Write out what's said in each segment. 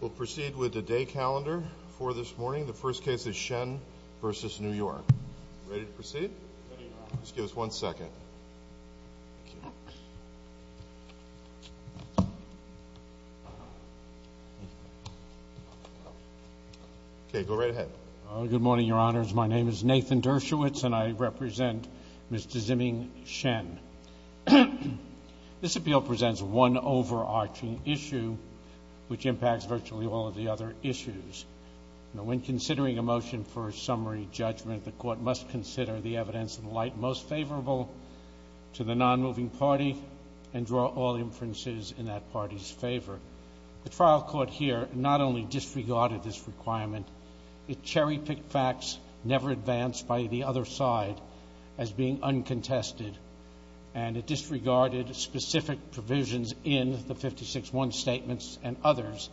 We'll proceed with the day calendar for this morning. The first case is Shen v. New York. Ready to proceed? Just give us one second. Okay, go right ahead. Good morning, Your Honors. My name is Nathan Dershowitz, and I represent Mr. Zimming Shen. This appeal presents one overarching issue, which impacts virtually all of the other issues. When considering a motion for a summary judgment, the court must consider the evidence in the light most favorable to the non-moving party and draw all inferences in that party's favor. The trial court here not only disregarded this requirement, it cherry-picked facts never advanced by the other side as being uncontested, and it disregarded specific provisions in the 56-1 statements and others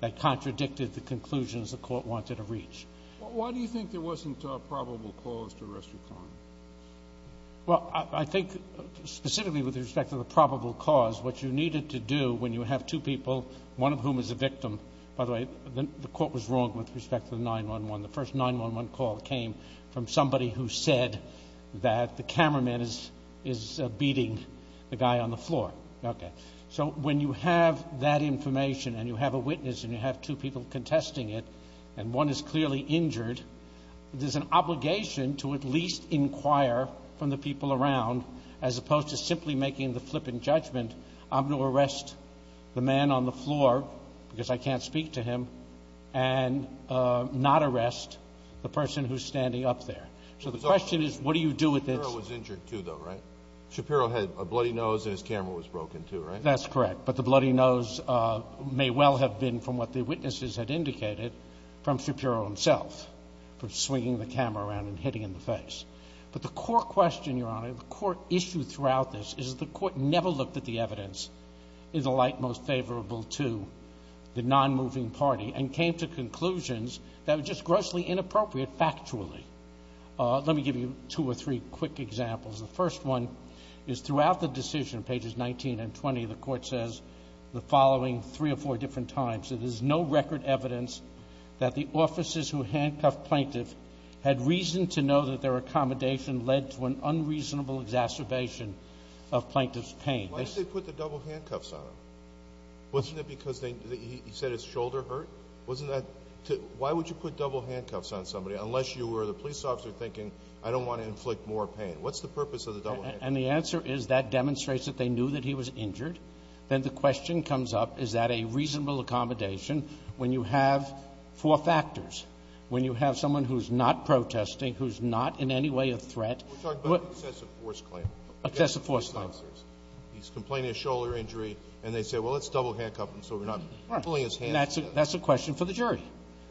that contradicted the conclusions the court wanted to reach. Why do you think there wasn't a probable cause to arrest your client? Well, I think specifically with respect to the probable cause, what you needed to do when you have two people, one of whom is a victim, by the way, the court was wrong with respect to the 911. The first 911 call came from somebody who said that the cameraman is beating the guy on the floor. Okay. So when you have that information and you have a witness and you have two people contesting it, and one is clearly injured, there's an obligation to at least inquire from the people around, as opposed to simply making the flippant judgment I'm going to arrest the man on the floor because I can't speak to him and not arrest the person who's standing up there. So the question is what do you do with this? Shapiro was injured, too, though, right? Shapiro had a bloody nose and his camera was broken, too, right? That's correct. But the bloody nose may well have been, from what the witnesses had indicated, from Shapiro himself, from swinging the camera around and hitting him in the face. But the core question, Your Honor, the core issue throughout this, is the court never looked at the evidence in the light most favorable to the nonmoving party and came to conclusions that were just grossly inappropriate factually. Let me give you two or three quick examples. The first one is throughout the decision, pages 19 and 20, the court says the following three or four different times, that there's no record evidence that the officers who handcuffed Plaintiff had reason to know that their accommodation led to an unreasonable exacerbation of Plaintiff's pain. Why did they put the double handcuffs on him? Wasn't it because he said his shoulder hurt? Wasn't that to why would you put double handcuffs on somebody unless you were the police officer thinking, I don't want to inflict more pain? What's the purpose of the double handcuffs? And the answer is that demonstrates that they knew that he was injured. Then the question comes up, is that a reasonable accommodation when you have four factors, when you have someone who's not protesting, who's not in any way a threat? We're talking about an excessive force claim. Excessive force claim. He's complaining of shoulder injury, and they say, well, let's double handcuff him so we're not pulling his hand. That's a question for the jury.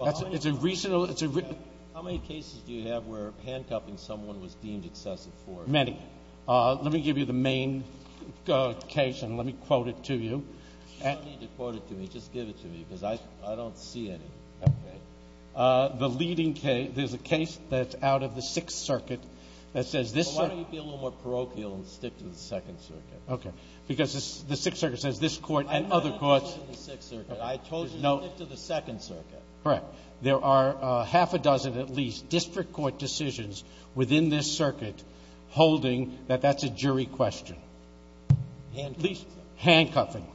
It's a reasonable — How many cases do you have where handcuffing someone was deemed excessive force? Many. Let me give you the main case, and let me quote it to you. You don't need to quote it to me. Just give it to me because I don't see any. The leading case, there's a case that's out of the Sixth Circuit that says this — Why don't you be a little more parochial and stick to the Second Circuit? Okay. Because the Sixth Circuit says this court and other courts — I told you to stick to the Sixth Circuit. I told you to stick to the Second Circuit. Correct. There are half a dozen at least district court decisions within this circuit holding that that's a jury question. Handcuffing. Handcuffing.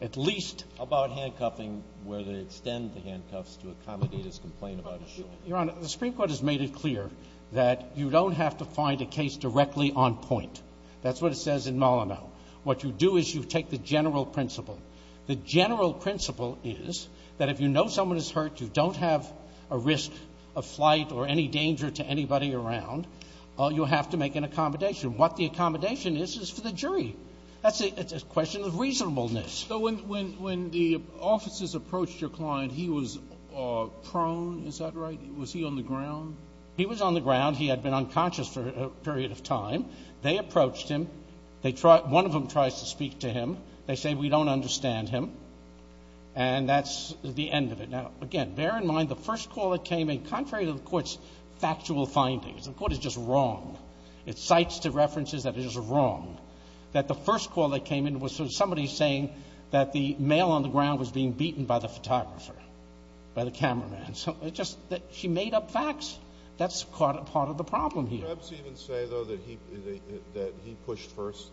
At least — How about handcuffing where they extend the handcuffs to accommodate his complaint about his shoulder? Your Honor, the Supreme Court has made it clear that you don't have to find a case directly on point. That's what it says in Molyneux. What you do is you take the general principle. The general principle is that if you know someone is hurt, you don't have a risk of flight or any danger to anybody around, you have to make an accommodation. What the accommodation is is for the jury. It's a question of reasonableness. So when the officers approached your client, he was prone, is that right? Was he on the ground? He was on the ground. He had been unconscious for a period of time. They approached him. One of them tries to speak to him. They say, we don't understand him. And that's the end of it. Now, again, bear in mind the first call that came in, contrary to the Court's factual findings, the Court is just wrong. It cites the references that it is wrong, that the first call that came in was somebody saying that the male on the ground was being beaten by the photographer, by the cameraman. So it's just that she made up facts. That's part of the problem here. Did Mr. Epps even say, though, that he pushed first,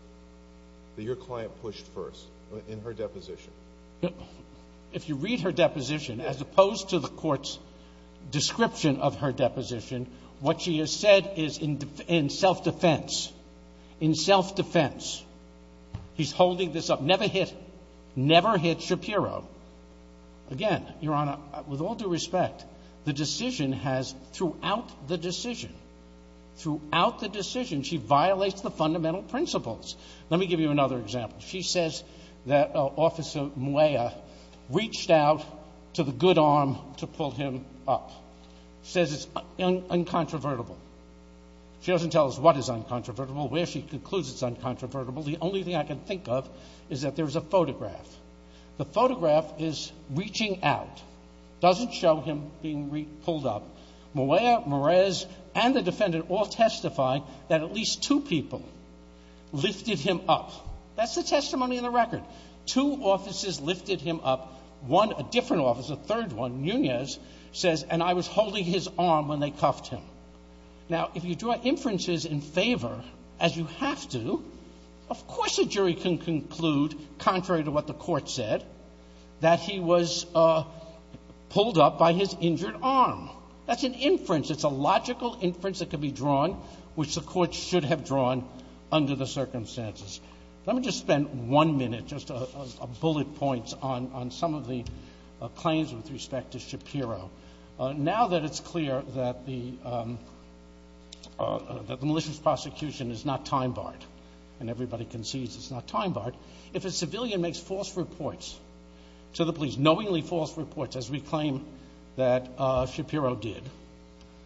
that your client pushed first in her deposition? If you read her deposition, as opposed to the Court's description of her deposition, what she has said is in self-defense, in self-defense. He's holding this up. Never hit, never hit Shapiro. Again, Your Honor, with all due respect, the decision has, throughout the decision, throughout the decision, she violates the fundamental principles. Let me give you another example. She says that Officer Moya reached out to the good arm to pull him up. Says it's uncontrovertible. She doesn't tell us what is uncontrovertible, where she concludes it's uncontrovertible. The only thing I can think of is that there's a photograph. The photograph is reaching out, doesn't show him being pulled up. Moya, Merez, and the defendant all testify that at least two people lifted him up. That's the testimony in the record. Two officers lifted him up. One, a different officer, a third one, Nunez, says, and I was holding his arm when they cuffed him. Now, if you draw inferences in favor, as you have to, of course a jury can conclude, contrary to what the court said, that he was pulled up by his injured arm. That's an inference. It's a logical inference that can be drawn, which the court should have drawn under the circumstances. Let me just spend one minute, just a bullet point on some of the claims with respect to Shapiro. Now that it's clear that the malicious prosecution is not time-barred, and everybody concedes it's not time-barred, if a civilian makes false reports to the police, knowingly false reports, as we claim that Shapiro did,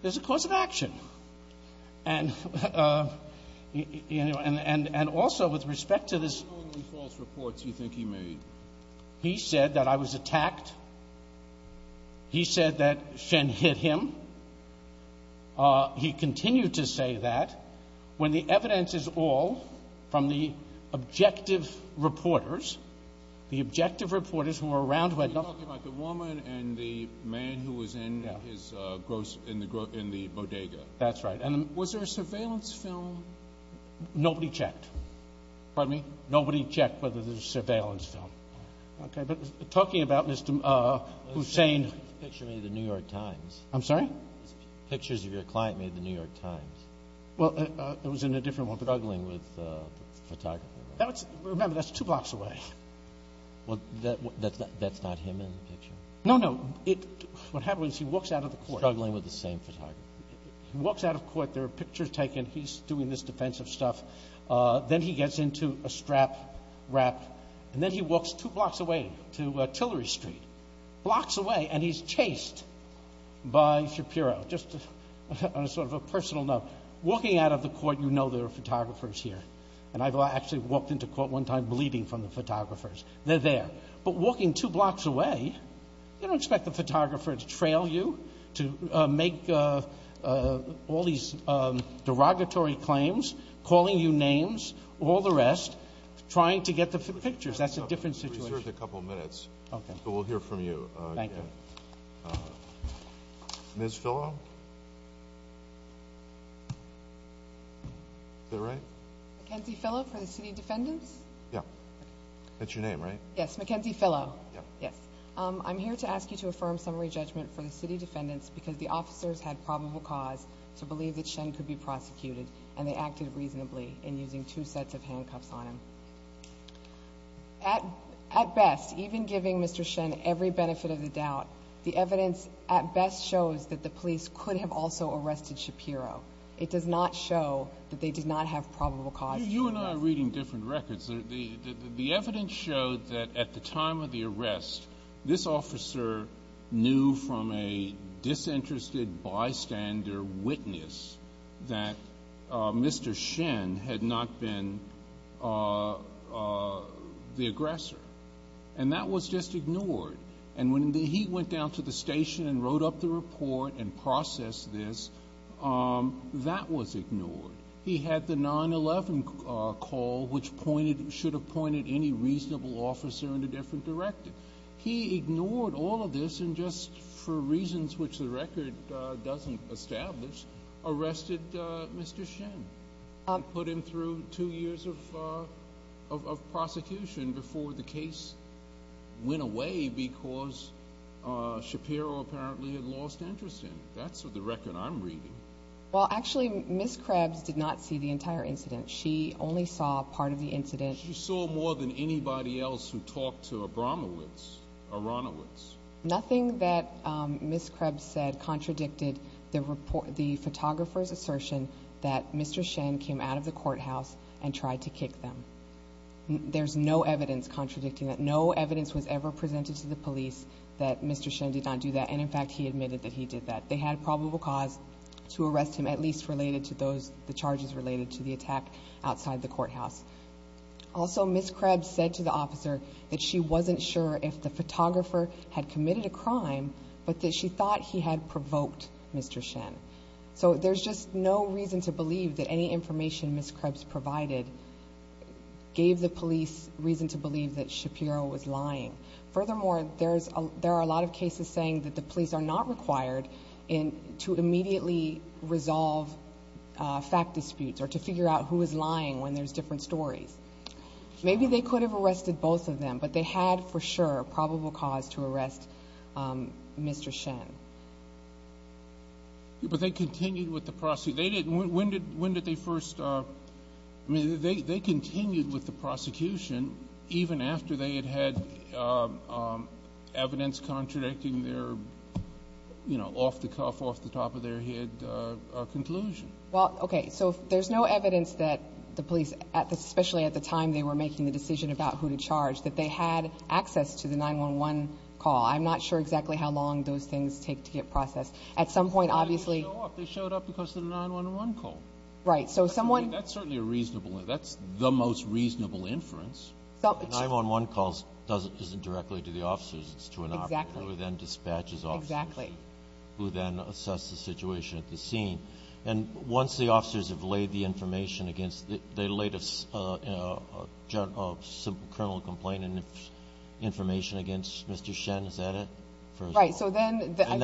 there's a cause of action. And also with respect to this— Knowingly false reports you think he made? He said that I was attacked. He said that Shen hit him. He continued to say that. When the evidence is all from the objective reporters, the objective reporters who were around— Are you talking about the woman and the man who was in the bodega? That's right. Was there a surveillance film? Nobody checked. Pardon me? Nobody checked whether there was a surveillance film. Okay. But talking about Mr. Hussein— The picture made in the New York Times. I'm sorry? Pictures of your client made in the New York Times. Well, it was in a different one. Struggling with the photographer. Remember, that's two blocks away. Well, that's not him in the picture? No, no. What happens is he walks out of the court. Struggling with the same photographer. He walks out of court. There are pictures taken. He's doing this defensive stuff. Then he gets into a strap-wrap, and then he walks two blocks away to Tillery Street. Blocks away, and he's chased by Shapiro. Just on a sort of a personal note, walking out of the court, you know there are photographers here. And I've actually walked into court one time bleeding from the photographers. They're there. But walking two blocks away, you don't expect the photographer to trail you, to make all these derogatory claims, calling you names, all the rest, trying to get the pictures. That's a different situation. We reserved a couple minutes. Okay. But we'll hear from you again. Thank you. Ms. Fillo? Is that right? Mackenzie Fillo for the City Defendants? Yeah. That's your name, right? Yes, Mackenzie Fillo. Yes. I'm here to ask you to affirm summary judgment for the City Defendants because the officers had probable cause to believe that Shen could be prosecuted, and they acted reasonably in using two sets of handcuffs on him. At best, even giving Mr. Shen every benefit of the doubt, the evidence at best shows that the police could have also arrested Shapiro. It does not show that they did not have probable cause. You and I are reading different records. The evidence showed that at the time of the arrest, this officer knew from a disinterested bystander witness that Mr. Shen had not been the aggressor, and that was just ignored. And when he went down to the station and wrote up the report and processed this, that was ignored. He had the 9-11 call, which should have pointed any reasonable officer in a different direction. He ignored all of this and just for reasons which the record doesn't establish, arrested Mr. Shen and put him through two years of prosecution before the case went away because Shapiro apparently had lost interest in him. That's the record I'm reading. Well, actually, Ms. Krebs did not see the entire incident. She only saw part of the incident. She saw more than anybody else who talked to Abramowitz, Aronowitz. Nothing that Ms. Krebs said contradicted the photographer's assertion that Mr. Shen came out of the courthouse and tried to kick them. There's no evidence contradicting that. No evidence was ever presented to the police that Mr. Shen did not do that, and, in fact, he admitted that he did that. They had probable cause to arrest him, at least related to the charges related to the attack outside the courthouse. Also, Ms. Krebs said to the officer that she wasn't sure if the photographer had committed a crime but that she thought he had provoked Mr. Shen. So there's just no reason to believe that any information Ms. Krebs provided gave the police reason to believe that Shapiro was lying. Furthermore, there are a lot of cases saying that the police are not required to immediately resolve fact disputes or to figure out who is lying when there's different stories. Maybe they could have arrested both of them, but they had, for sure, probable cause to arrest Mr. Shen. But they continued with the prosecution. When did they first—I mean, they continued with the prosecution even after they had had evidence contradicting their off-the-cuff, off-the-top-of-their-head conclusion. Well, okay, so there's no evidence that the police, especially at the time they were making the decision about who to charge, that they had access to the 911 call. I'm not sure exactly how long those things take to get processed. At some point, obviously— They showed up. They showed up because of the 911 call. Right, so someone— That's certainly a reasonable—that's the most reasonable inference. 911 calls isn't directly to the officers. It's to an operator who then dispatches officers— Exactly. —who then assess the situation at the scene. And once the officers have laid the information against— they laid a criminal complaint information against Mr. Shen, is that it? Right, so then— They have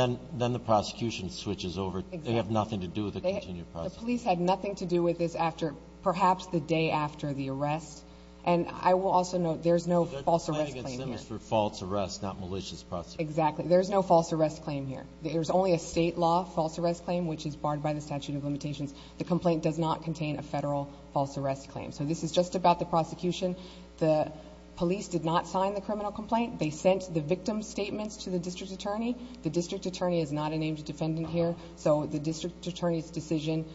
nothing to do with the continued process. The police had nothing to do with this after—perhaps the day after the arrest. And I will also note there's no false arrest claim here. So their complaint against them is for false arrest, not malicious prosecution. Exactly. There's no false arrest claim here. There's only a state law false arrest claim, which is barred by the statute of limitations. The complaint does not contain a federal false arrest claim. So this is just about the prosecution. The police did not sign the criminal complaint. They sent the victim's statements to the district attorney. The district attorney is not a named defendant here. So the district attorney's decision,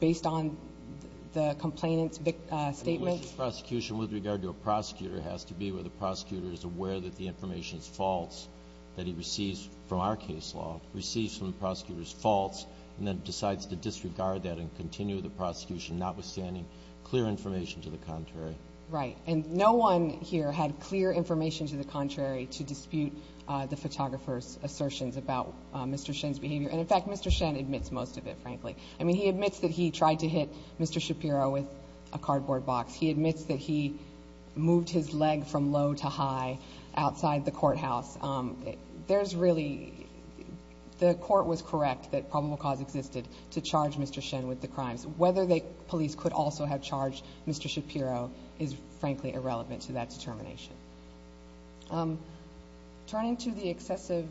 based on the complainant's statements— I mean, malicious prosecution with regard to a prosecutor has to be where the prosecutor is aware that the information is false, that he receives from our case law, receives from the prosecutor's false, and then decides to disregard that and continue the prosecution, notwithstanding clear information to the contrary. Right. And no one here had clear information to the contrary to dispute the photographer's assertions about Mr. Shen's behavior. And, in fact, Mr. Shen admits most of it, frankly. I mean, he admits that he tried to hit Mr. Shapiro with a cardboard box. He admits that he moved his leg from low to high outside the courthouse. There's really—the court was correct that probable cause existed to charge Mr. Shen with the crimes. Whether the police could also have charged Mr. Shapiro is, frankly, irrelevant to that determination. Turning to the excessive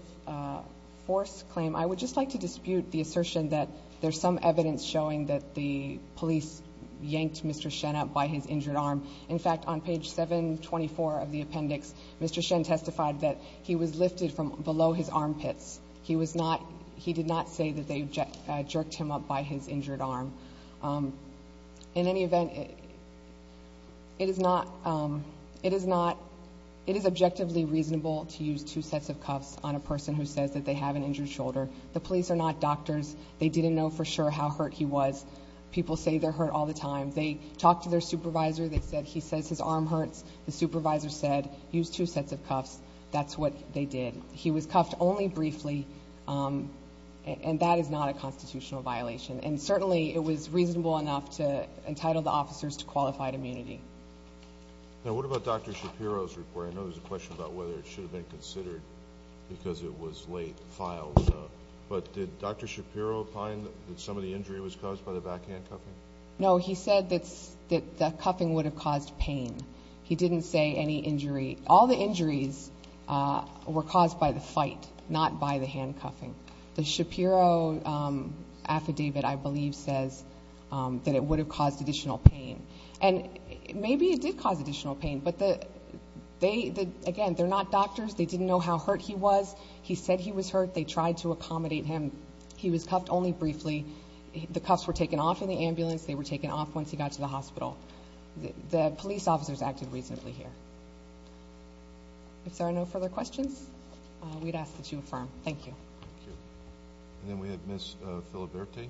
force claim, I would just like to dispute the assertion that there's some evidence showing that the police yanked Mr. Shen up by his injured arm. In fact, on page 724 of the appendix, Mr. Shen testified that he was lifted from below his armpits. He was not—he did not say that they jerked him up by his injured arm. In any event, it is not—it is not—it is objectively reasonable to use two sets of cuffs on a person who says that they have an injured shoulder. The police are not doctors. They didn't know for sure how hurt he was. People say they're hurt all the time. They talked to their supervisor. They said he says his arm hurts. The supervisor said, use two sets of cuffs. That's what they did. He was cuffed only briefly, and that is not a constitutional violation. And certainly, it was reasonable enough to entitle the officers to qualified immunity. Now, what about Dr. Shapiro's report? I know there's a question about whether it should have been considered because it was late filed. But did Dr. Shapiro find that some of the injury was caused by the backhand cuffing? No, he said that the cuffing would have caused pain. He didn't say any injury. All the injuries were caused by the fight, not by the handcuffing. The Shapiro affidavit, I believe, says that it would have caused additional pain. And maybe it did cause additional pain, but they—again, they're not doctors. They didn't know how hurt he was. He said he was hurt. They tried to accommodate him. He was cuffed only briefly. The cuffs were taken off in the ambulance. They were taken off once he got to the hospital. The police officers acted reasonably here. If there are no further questions, we'd ask that you affirm. Thank you. Thank you. And then we have Ms. Filiberte.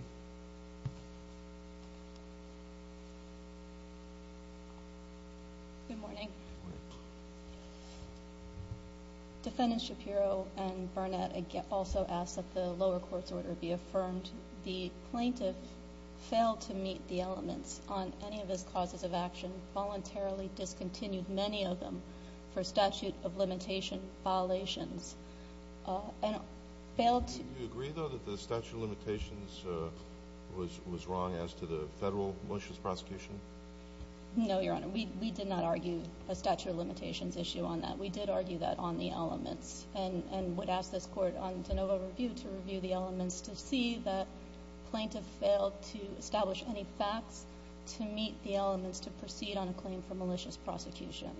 Good morning. Good morning. Defendant Shapiro and Burnett also ask that the lower court's order be affirmed. The plaintiff failed to meet the elements on any of his causes of action, voluntarily discontinued many of them for statute of limitation violations, and failed to— Do you agree, though, that the statute of limitations was wrong as to the federal malicious prosecution? No, Your Honor. We did not argue a statute of limitations issue on that. We did argue that on the elements and would ask this court on de novo review to review the elements to see that plaintiff failed to establish any facts to meet the elements to proceed on a claim for malicious prosecution.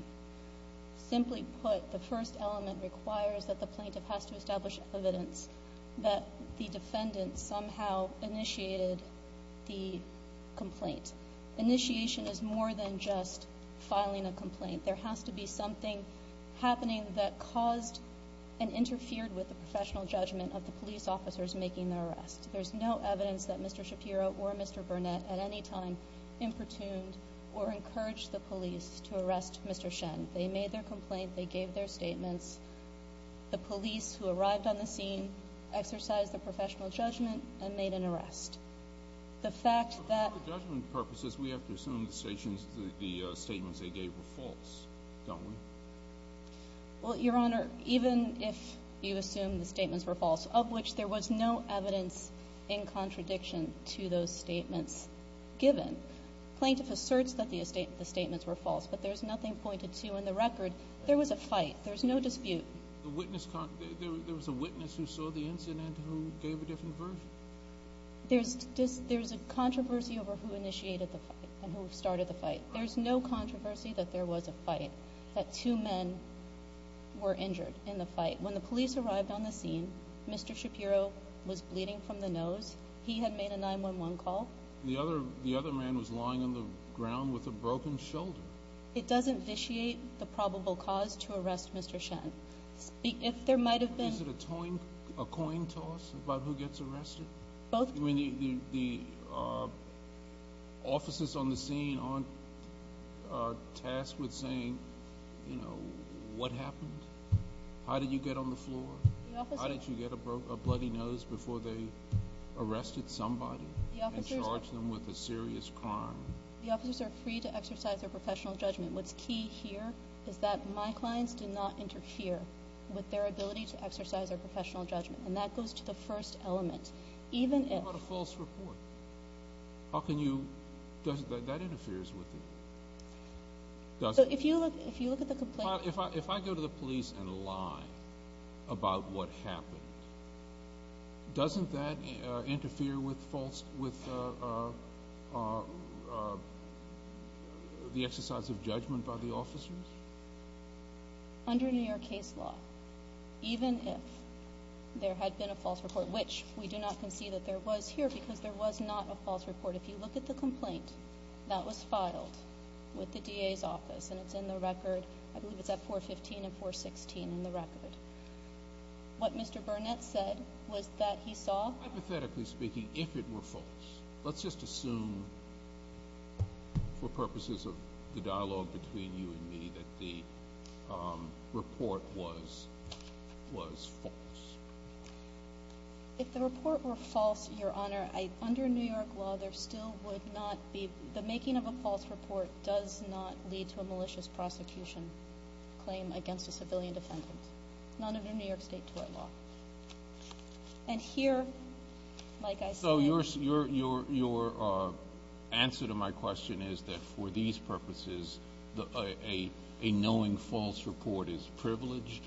Simply put, the first element requires that the plaintiff has to establish evidence that the defendant somehow initiated the complaint. Initiation is more than just filing a complaint. There has to be something happening that caused and interfered with the professional judgment of the police officers making the arrest. There's no evidence that Mr. Shapiro or Mr. Burnett at any time improtuned or encouraged the police to arrest Mr. Shen. They made their complaint. They gave their statements. The police who arrived on the scene exercised the professional judgment and made an arrest. The fact that— Well, Your Honor, even if you assume the statements were false, of which there was no evidence in contradiction to those statements given, plaintiff asserts that the statements were false, but there's nothing pointed to in the record. There was a fight. There's no dispute. There was a witness who saw the incident who gave a different version? There's a controversy over who initiated the fight and who started the fight. There's no controversy that there was a fight, that two men were injured in the fight. When the police arrived on the scene, Mr. Shapiro was bleeding from the nose. He had made a 911 call. The other man was lying on the ground with a broken shoulder. It doesn't vitiate the probable cause to arrest Mr. Shen. If there might have been— Is it a coin toss about who gets arrested? The officers on the scene aren't tasked with saying, you know, what happened? How did you get on the floor? How did you get a bloody nose before they arrested somebody and charged them with a serious crime? The officers are free to exercise their professional judgment. What's key here is that my clients do not interfere with their ability to exercise their professional judgment, and that goes to the first element. Even if— What about a false report? How can you—that interferes with it. If you look at the complaint— If I go to the police and lie about what happened, doesn't that interfere with the exercise of judgment by the officers? Under New York case law, even if there had been a false report, which we do not concede that there was here because there was not a false report. If you look at the complaint that was filed with the DA's office, and it's in the record—I believe it's at 415 and 416 in the record. What Mr. Burnett said was that he saw— Hypothetically speaking, if it were false, let's just assume for purposes of the dialogue between you and me that the report was false. If the report were false, Your Honor, under New York law, there still would not be— the making of a false report does not lead to a malicious prosecution claim against a civilian defendant, not under New York State tort law. And here, like I said— So your answer to my question is that for these purposes, a knowing false report is privileged?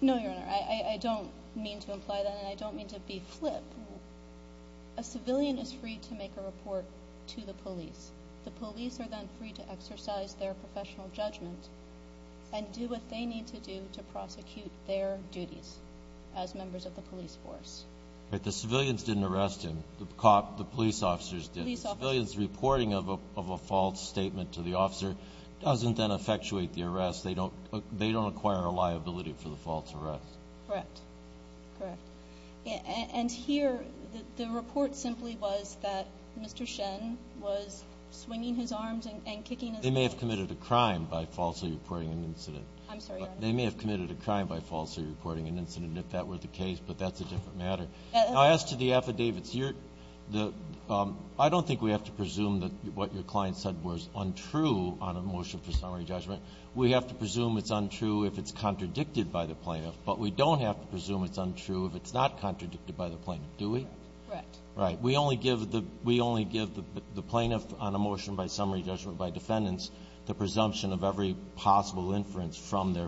No, Your Honor. I don't mean to imply that, and I don't mean to be flip. A civilian is free to make a report to the police. The police are then free to exercise their professional judgment and do what they need to do to prosecute their duties as members of the police force. But the civilians didn't arrest him. The police officers did. The civilians' reporting of a false statement to the officer doesn't then effectuate the arrest. They don't acquire a liability for the false arrest. Correct. Correct. And here, the report simply was that Mr. Shen was swinging his arms and kicking his head. They may have committed a crime by falsely reporting an incident. I'm sorry, Your Honor. Now, as to the affidavits, I don't think we have to presume that what your client said was untrue on a motion for summary judgment. We have to presume it's untrue if it's contradicted by the plaintiff, but we don't have to presume it's untrue if it's not contradicted by the plaintiff, do we? Correct. Right. We only give the plaintiff on a motion by summary judgment by defendants the presumption of every possible inference from their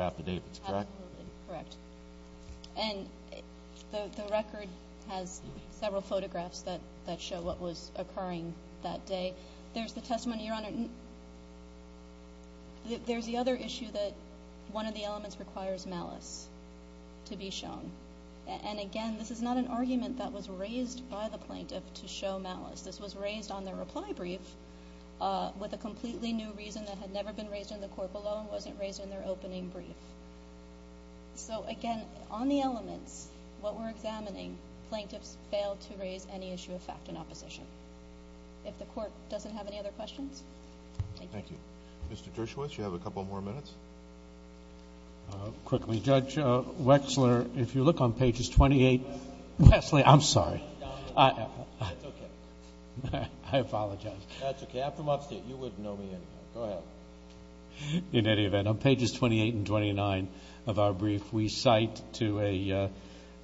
affidavits, correct? Absolutely correct. And the record has several photographs that show what was occurring that day. There's the testimony, Your Honor. There's the other issue that one of the elements requires malice to be shown. And again, this is not an argument that was raised by the plaintiff to show malice. This was raised on their reply brief with a completely new reason that had never been raised in the court below and wasn't raised in their opening brief. So, again, on the elements, what we're examining, plaintiffs failed to raise any issue of fact in opposition. If the Court doesn't have any other questions? Thank you. Thank you. Mr. Dershowitz, you have a couple more minutes. Quickly. Judge Wexler, if you look on pages 28— Wesley. Wesley, I'm sorry. It's okay. I apologize. That's okay. I'm from upstate. You wouldn't know me anyway. Go ahead. In any event, on pages 28 and 29 of our brief, we cite to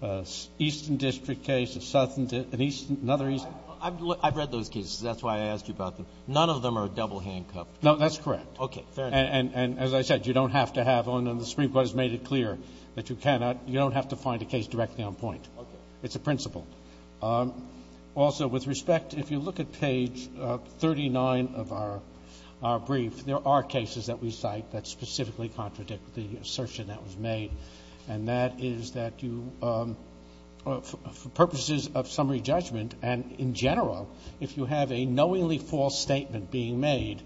an eastern district case, an eastern—another eastern— I've read those cases. That's why I asked you about them. None of them are double handcuffed. No, that's correct. Okay. Fair enough. And as I said, you don't have to have one. And the Supreme Court has made it clear that you cannot—you don't have to find a case directly on point. Okay. It's a principle. Also, with respect, if you look at page 39 of our brief, there are cases that we cite that specifically contradict the assertion that was made, and that is that you—for purposes of summary judgment and in general, if you have a knowingly false statement being made,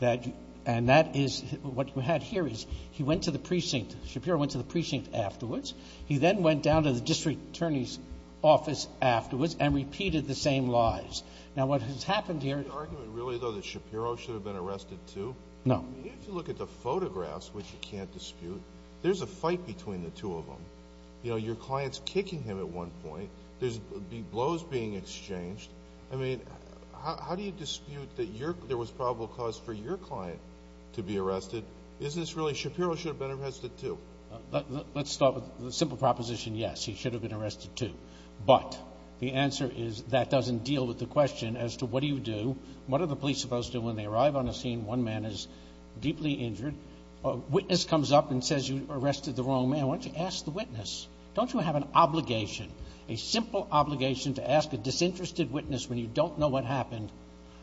that—and that is— what you had here is he went to the precinct. Shapiro went to the precinct afterwards. He then went down to the district attorney's office afterwards and repeated the same lies. Now, what has happened here— Is the argument really, though, that Shapiro should have been arrested, too? No. I mean, if you look at the photographs, which you can't dispute, there's a fight between the two of them. You know, your client's kicking him at one point. There's blows being exchanged. I mean, how do you dispute that there was probable cause for your client to be arrested? Isn't this really Shapiro should have been arrested, too? Let's start with the simple proposition, yes, he should have been arrested, too. But the answer is that doesn't deal with the question as to what do you do, what are the police supposed to do when they arrive on a scene, one man is deeply injured, a witness comes up and says you arrested the wrong man. Why don't you ask the witness? Don't you have an obligation, a simple obligation, to ask a disinterested witness when you don't know what happened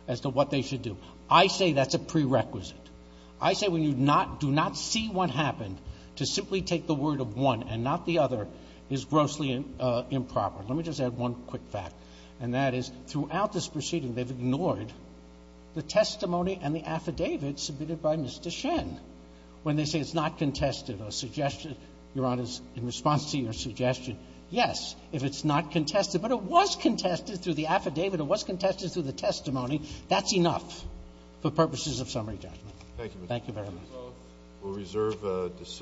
as to what they should do? I say that's a prerequisite. I say when you do not see what happened, to simply take the word of one and not the other is grossly improper. Let me just add one quick fact, and that is throughout this proceeding, they've ignored the testimony and the affidavit submitted by Mr. Shen. When they say it's not contested, a suggestion, Your Honor, in response to your suggestion, yes, if it's not contested, but it was contested through the affidavit, it was contested through the testimony, that's enough for purposes of summary judgment. Thank you. Thank you very much.